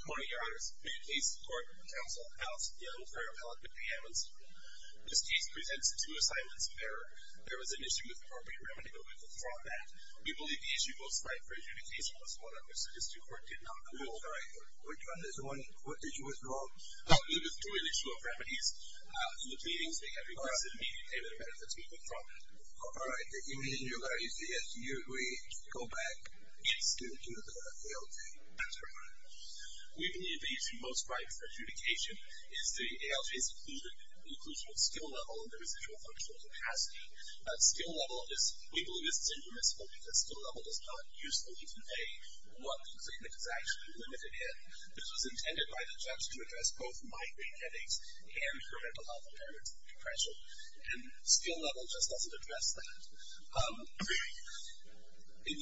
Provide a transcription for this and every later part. Good morning, your honors. We have a case in court. The counsel, Alex Young, for your appellate, Mr. Amundson. This case presents two assignments of error. There was an issue with the property remedy, but we've withdrawn that. We believe the issue goes straight for adjudication, plus one on which the district court did not rule. Which one is the one? What issue is wrong? There were two issues of remedies in the proceedings. They have requested immediate payment of benefits. We've withdrawn that. All right. You mean you're going to use the SUE to go back and still do the ALJ? That's correct. We believe the issue most right for adjudication is the ALJ's inclusion of skill level and the residual functional capacity. Skill level is – we believe it's infeasible because skill level does not usefully convey what the agreement is actually limited in. This was intended by the judge to address both mind-brain headaches and her mental health impairment threshold. And skill level just doesn't address that. In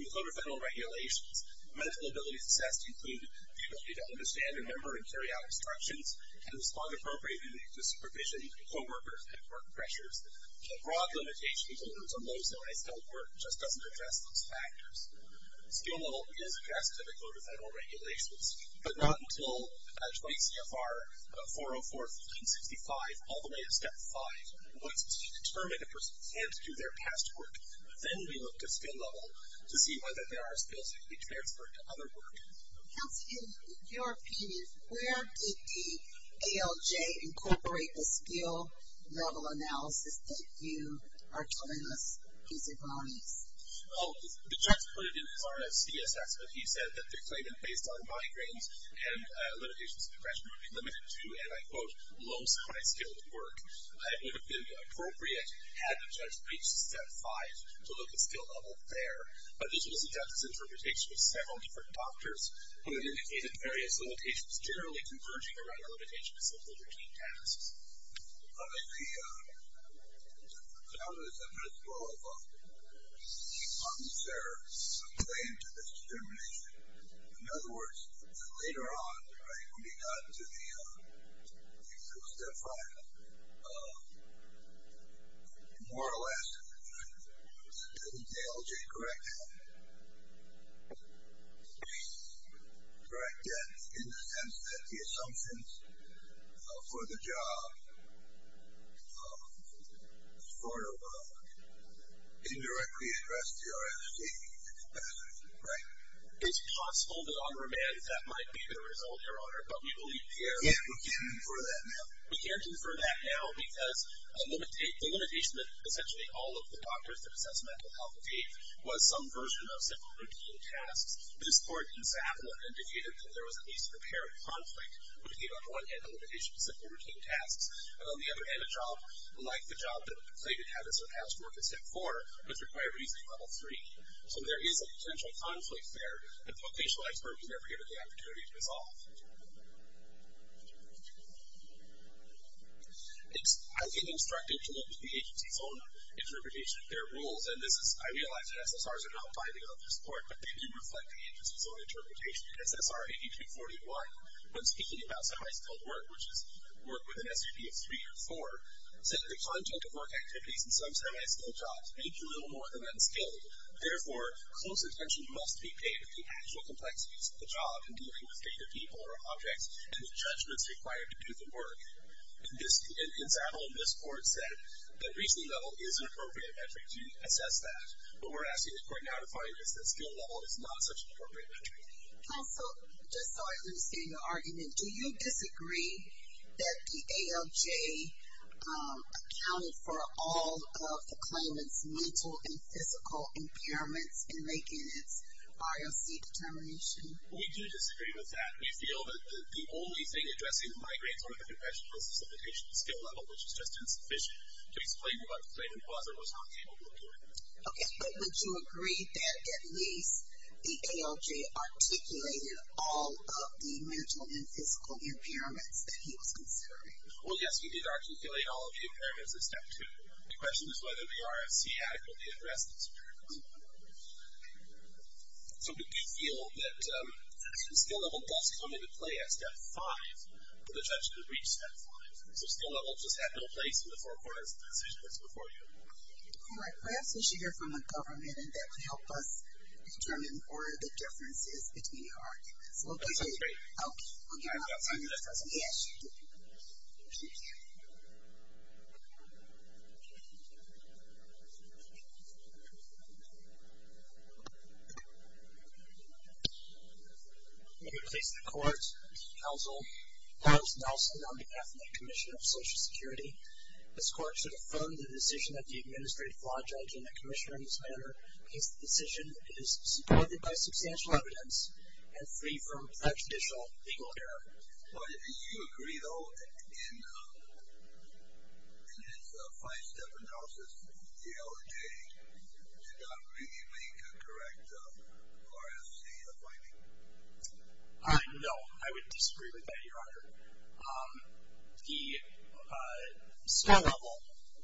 the Code of Federal Regulations, mental abilities assessed include the ability to understand, remember, and carry out instructions, and respond appropriately to supervision, co-workers, and court pressures. A broad limitation in terms of low self-worth just doesn't address those factors. Skill level is addressed in the Code of Federal Regulations, but not until 20 CFR 404-1565, all the way to Step 5, once it's determined a person can't do their past work. Then we look at skill level to see whether there are skills that can be transferred to other work. Counselor, in your opinion, where did the ALJ incorporate the skill level analysis that you are telling us is advantageous? Oh, the judge put it in his RFC assessment. He said that the claimant, based on migraines and limitations of depression, would be limited to, and I quote, low to high skills at work. It would have been appropriate had the judge reached Step 5 to look at skill level there. But this was a dentist's interpretation of several different doctors who had indicated various limitations generally converging around the limitation of simple routine tasks. How does the principle of unserved claim to this determination? In other words, later on, when you got to the skill Step 5, more or less, didn't the ALJ correct that in the sense that the assumptions for the job sort of indirectly addressed the RFC assessment, right? It's possible that on remand that might be the result, Your Honor, but we believe here we can't. We can't confirm that now. We can't confirm that now because the limitation that essentially all of the doctors that assessed mental health and faith was some version of simple routine tasks. This court in Sapna indicated that there was at least a apparent conflict between on one hand the limitation of simple routine tasks, and on the other hand, a job like the job that the plaintiff had as her past work at Step 4, was required to be at Level 3. So there is a potential conflict there, and the vocational expert was never given the opportunity to resolve. It's highly instructive to look at the agency's own interpretation of their rules, and this is, I realize that SSRs are not binding on this court, but they do reflect the agency's own interpretation. SSR 8241, when speaking about semi-skilled work, which is work with an SUV of 3 or 4, said the content of work activities in some semi-skilled jobs may be a little more than unskilled. Therefore, close attention must be paid to the actual complexities of the job in dealing with data people or objects, and the judgments required to do the work. In Sapna, this court said that reaching level is an appropriate metric to assess that, but what we're asking the court now to find is that skill level is not such an appropriate metric. Counsel, just so I understand your argument, do you disagree that the ALJ accounted for all of the claimant's mental and physical impairments in making its ROC determination? We do disagree with that. We feel that the only thing addressing the migraines or the conventional specification of skill level, which is just insufficient to explain what the plaintiff was or was not capable of doing. Okay, but would you agree that at least the ALJ articulated all of the mental and physical impairments that he was considering? Well, yes, we did articulate all of the impairments in step two. The question is whether the ROC adequately addressed these impairments. So we do feel that skill level does come into play at step five for the judge to reach step five. So skill level just had no place in the forecourt decision that's before you. All right. Perhaps we should hear from the government, and that would help us determine where the difference is between your arguments. Okay. I agree. Okay. We'll give our time to this person. Yes. Thank you. I'm going to place the court, counsel, Holmes Nelson on behalf of the Commission of Social Security. This court should affirm the decision of the administrative flaw judge and the commissioner in this matter. This decision is supported by substantial evidence and free from unjudicial legal error. Do you agree, though, that in his five-step analysis, the ALJ did not really make a correct ROC finding? No, I would disagree with that, Your Honor. The skill level,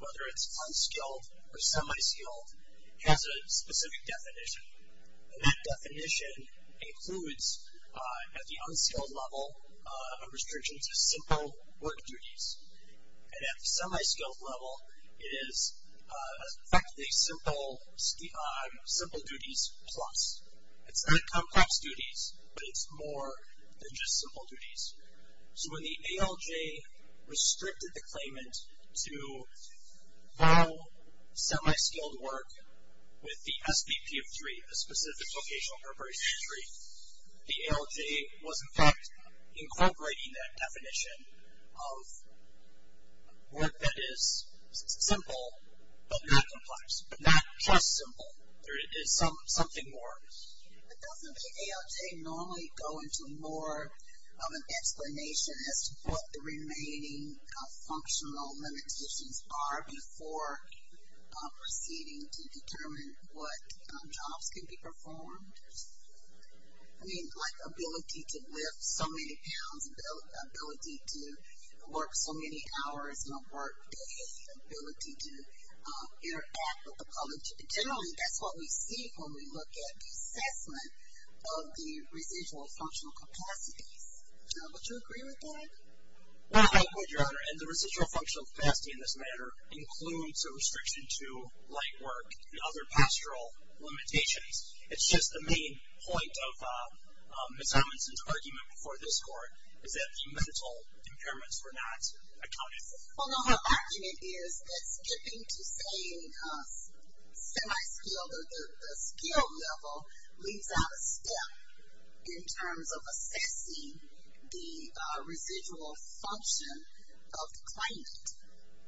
whether it's unskilled or semi-skilled, has a specific definition. And that definition includes, at the unskilled level, a restriction to simple work duties. And at the semi-skilled level, it is effectively simple duties plus. It's not complex duties, but it's more than just simple duties. So when the ALJ restricted the claimant to no semi-skilled work with the SPP of three, a specific vocational appropriation of three, the ALJ was, in fact, incorporating that definition of work that is simple but not complex, but not just simple. Something more. But doesn't the ALJ normally go into more of an explanation as to what the remaining functional limitations are before proceeding to determine what jobs can be performed? I mean, like ability to lift so many pounds, ability to work so many hours on a work day, ability to interact with the public. Generally, that's what we see when we look at the assessment of the residual functional capacities. Would you agree with that? I would, Your Honor. And the residual functional capacity, in this matter, includes a restriction to light work and other pastoral limitations. It's just the main point of Ms. Robinson's argument before this Court is that the mental impairments were not accounted for. Well, no, her argument is that skipping to say semi-skilled or the skilled level leaves out a step in terms of assessing the residual function of the claimant.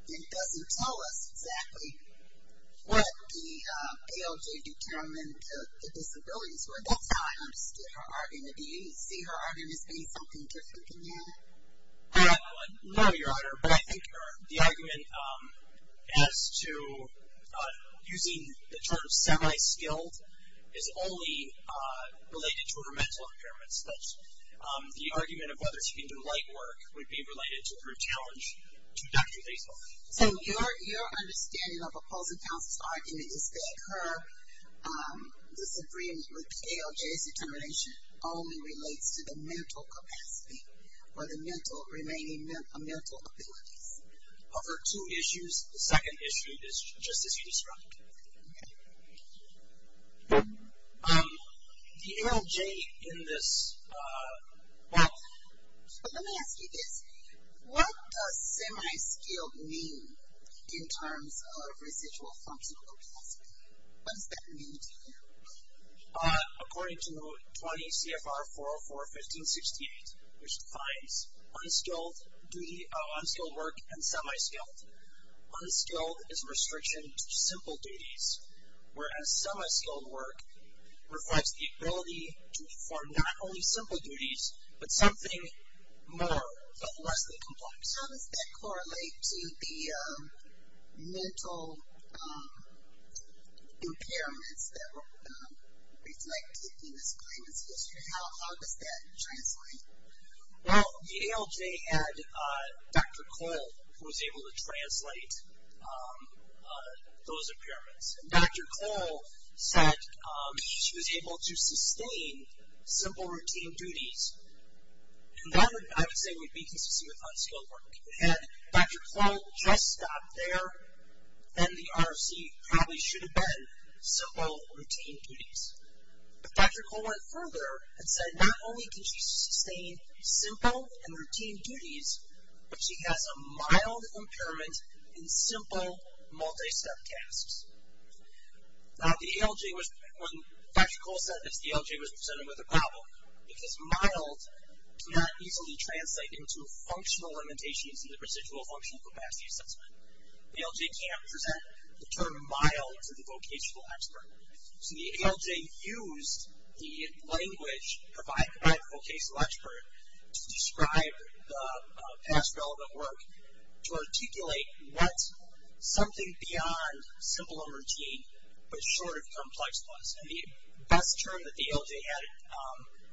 It doesn't tell us exactly what the ALJ determined the disabilities were. That's how I understood her argument. Do you see her argument as being something different than that? No, Your Honor, but I think the argument as to using the term semi-skilled is only related to her mental impairments. The argument of whether she can do light work would be related to her challenge to Dr. Latham. So your understanding of opposing counsel's argument is that her disagreement with the ALJ's determination only relates to the mental capacity or the remaining mental abilities. Of her two issues, the second issue is just as you described. The ALJ in this, well. Let me ask you this. What does semi-skilled mean in terms of residual functional capacity? What does that mean to you? According to 20 CFR 404-1568, which defines unskilled work and semi-skilled, unskilled is restriction to simple duties, whereas semi-skilled work provides the ability to perform not only simple duties, but something more, but less than complex. How does that correlate to the mental impairments that were reflected in this claimant's history? How does that translate? Well, the ALJ had Dr. Cole who was able to translate those impairments. And Dr. Cole said she was able to sustain simple routine duties. And that, I would say, would be consistent with unskilled work. Had Dr. Cole just stopped there, then the ROC probably should have been simple routine duties. But Dr. Cole went further and said not only can she sustain simple and routine duties, but she has a mild impairment in simple multi-step tasks. Now the ALJ was, when Dr. Cole said this, the ALJ was presented with a problem because mild cannot easily translate into functional limitations in the residual function capacity assessment. The ALJ cannot present the term mild to the vocational expert. So the ALJ used the language provided by the vocational expert to describe the past relevant work to articulate what something beyond simple and routine but short of complex was. And the best term that the ALJ had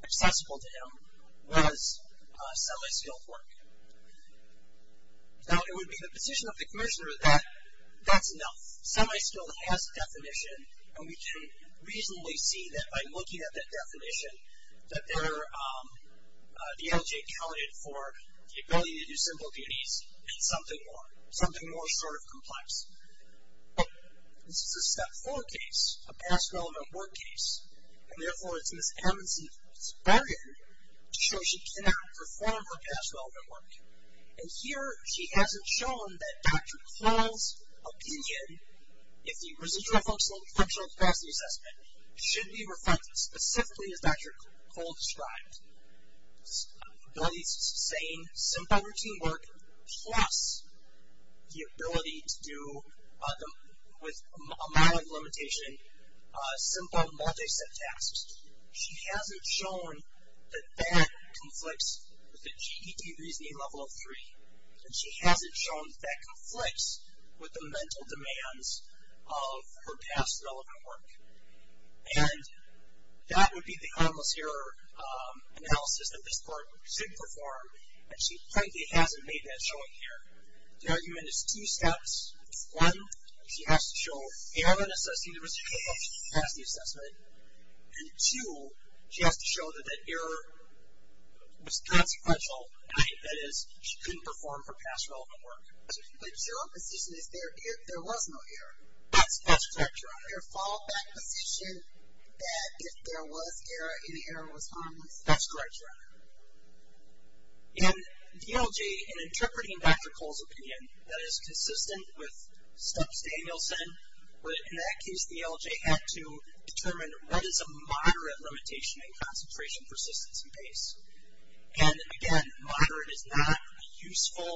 accessible to him was semi-skilled work. Now it would be the position of the commissioner that that's enough. Semi-skilled has definition, and we can reasonably see that by looking at that definition, that the ALJ accounted for the ability to do simple duties and something more, something more short of complex. This is a step four case, a past relevant work case. And therefore, it's Ms. Hammond's bargain to show she cannot perform her past relevant work. And here she hasn't shown that Dr. Cole's opinion, if the residual functional capacity assessment should be reflected specifically as Dr. Cole described, the ability to sustain simple routine work plus the ability to do, with a mild limitation, simple multi-step tasks. She hasn't shown that that conflicts with the GED reasoning level of three. And she hasn't shown that that conflicts with the mental demands of her past relevant work. And that would be the countless error analysis that this court should perform, and she frankly hasn't made that showing here. The argument is two steps. One, she has to show error in assessing the residual capacity assessment. And two, she has to show that that error was consequential, that is, she couldn't perform her past relevant work. But your position is there was no error. That's correct. Your follow-back position that there was error and the error was harmless. That's correct, Your Honor. And DLJ, in interpreting Dr. Cole's opinion, that is consistent with Stubbs-Danielson, but in that case the LJ had to determine what is a moderate limitation in concentration, persistence, and pace. And again, moderate is not a useful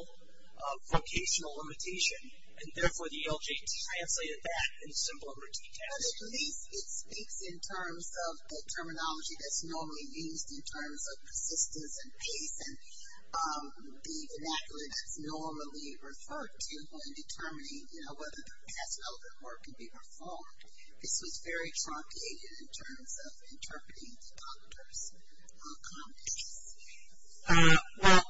vocational limitation, and therefore the LJ translated that in simple and routine cash. But at least it speaks in terms of the terminology that's normally used in terms of persistence and pace and the vernacular that's normally referred to when determining, you know, whether the past relevant work could be performed. This was very truncated in terms of interpreting the doctor's comments. Well,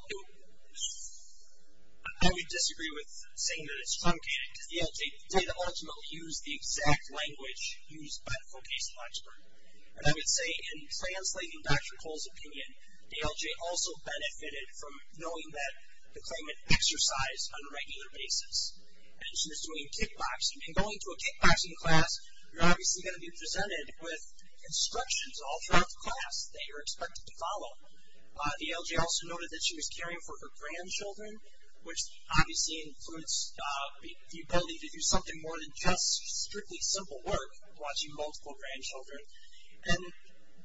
I would disagree with saying that it's truncated, because the LJ did ultimately use the exact language used by the vocational expert. And I would say in translating Dr. Cole's opinion, the LJ also benefited from knowing that the claimant exercised on a regular basis. And she was doing kickboxing. If you're going to a kickboxing class, they are expected to follow. The LJ also noted that she was caring for her grandchildren, which obviously includes the ability to do something more than just strictly simple work, watching multiple grandchildren. And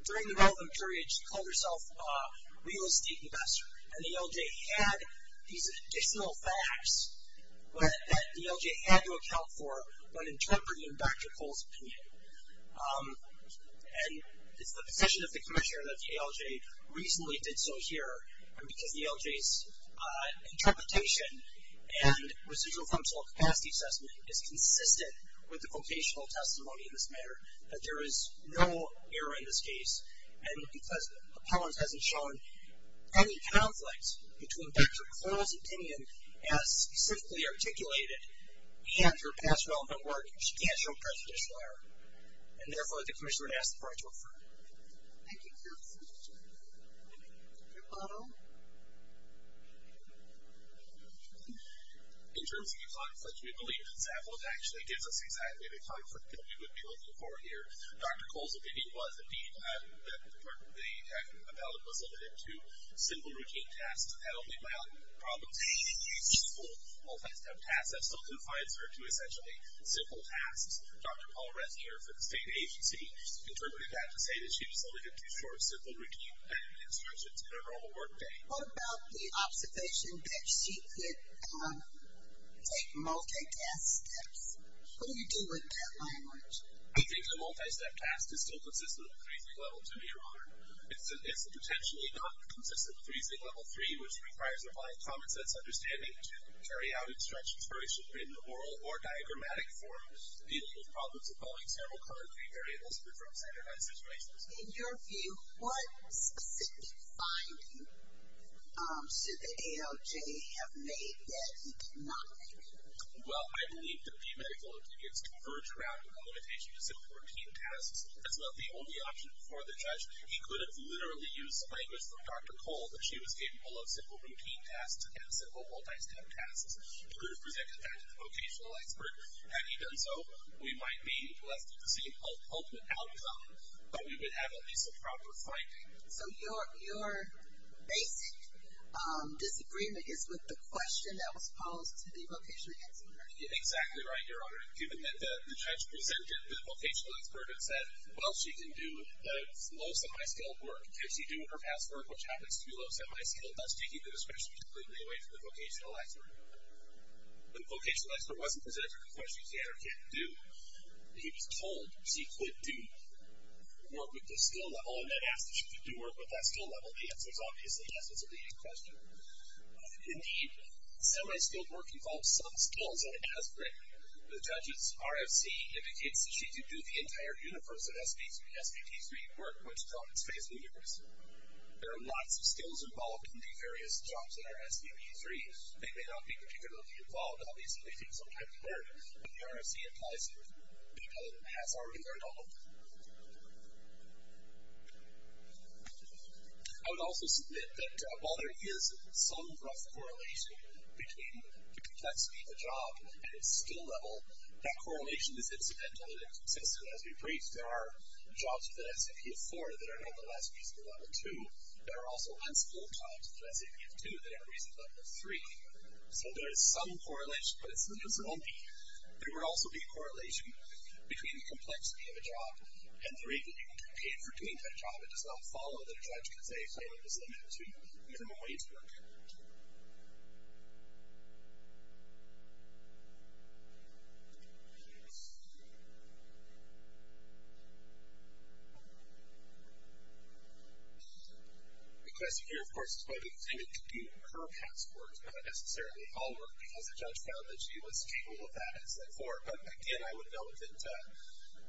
during the wealth of courage, she called herself a real estate investor. And the LJ had these additional facts that the LJ had to account for when interpreting Dr. Cole's opinion. And it's the position of the commissioner that the LJ reasonably did so here, because the LJ's interpretation and residual functional capacity assessment is consistent with the vocational testimony in this matter, that there is no error in this case. And because appellant hasn't shown any conflict between Dr. Cole's opinion as specifically articulated and her past relevant work, she can't show prejudicial error. And therefore, the commissioner would ask the board to refer her. Thank you. In terms of the conflict, we believe that Zappos actually gives us exactly the conflict that we would be looking for here. Dr. Cole's opinion was, indeed, that the appellant was limited to simple routine tasks that only allowed problems in each school. Multi-step tasks, that still confines her to, essentially, simple tasks. Dr. Paul Resnier for the state agency interpreted that to say that she was limited to short, simple routine assignments in her normal work day. What about the observation that she could take multi-task steps? What do you do with that language? I think the multi-step task is still consistent with reasoning level two, Your Honor. It's potentially not consistent with reasoning level three, which requires applying common sense understanding to carry out and stretch inspiration in oral or diagrammatic forms. The legal problems involving cerebral coronary variables differ from standardized situations. In your view, what specific finding should the ALJ have made that he did not make? Well, I believe that the medical opinion is converged around the limitation to simple routine tasks. That's not the only option for the judge. He could have literally used language from Dr. Cole, that she was capable of simple routine tasks and simple multi-step tasks. He could have presented that to the vocational expert. Had he done so, we might be left with the same ultimate outcome, but we would have at least a proper finding. So your basic disagreement is with the question that was posed to the vocational expert? Exactly right, Your Honor. Given that the judge presented the vocational expert and said, well, she can do most of my skilled work. Can she do her past work, which happens to be low semi-skilled, thus taking the discretion completely away from the vocational expert? The vocational expert wasn't presented with a question, can or can't do. He was told she could do work with the skill level and then asked if she could do work with that skill level. The answer is obviously yes. That's a leading question. Indeed, semi-skilled work involves some skills, and it does ring. The judge's RFC indicates that she can do the entire universe of SPT3 work, which is called the space universe. There are lots of skills involved in the various jobs that are SPT3. They may not be particularly involved. Obviously, they can sometimes be learned, but the RFC implies that people have already learned all of them. I would also submit that while there is some rough correlation between the complexity of the job and its skill level, that correlation is incidental and inconsistent. As we briefed, there are jobs within SAPF4 that are, nevertheless, reasonable level 2. There are also unskilled jobs within SAPF2 that are reasonable level 3. So there is some correlation, but it's not the only. There would also be a correlation between the complexity of a job and the rate that you would be paid for doing that job. It does not follow that a judge can say, I'm just going to give them a way to work. The question here, of course, is whether it's going to be her passport is not necessarily all work, because the judge found that she was capable of that in SAPF4. But, again, I would note that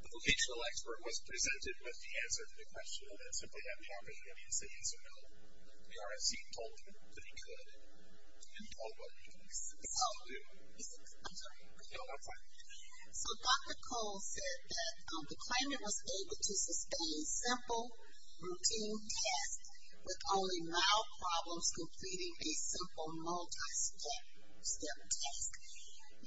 the vocational expert was presented with the answer to the question, rather than simply having him say yes or no. The RFC told him that he could, and he told what he thinks. So Dr. Cole said that the claimant was able to sustain simple, routine tasks with only mild problems, completing a simple multi-step task.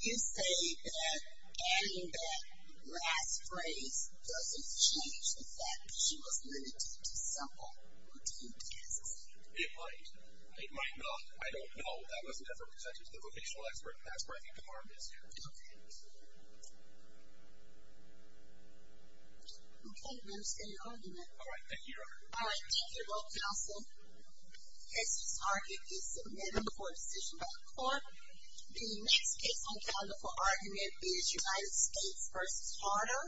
You say that adding that last phrase doesn't change the fact that she was limited to simple, routine tasks. It might. It might not. I don't know. That was never presented to the vocational expert, and that's where I think the harm is here. Okay. I don't quite understand your argument. All right. Thank you, Your Honor. All right. Thank you both, counsel. This is argued in submittal before decision by the court. The next case I found before argument is United States v. Carter.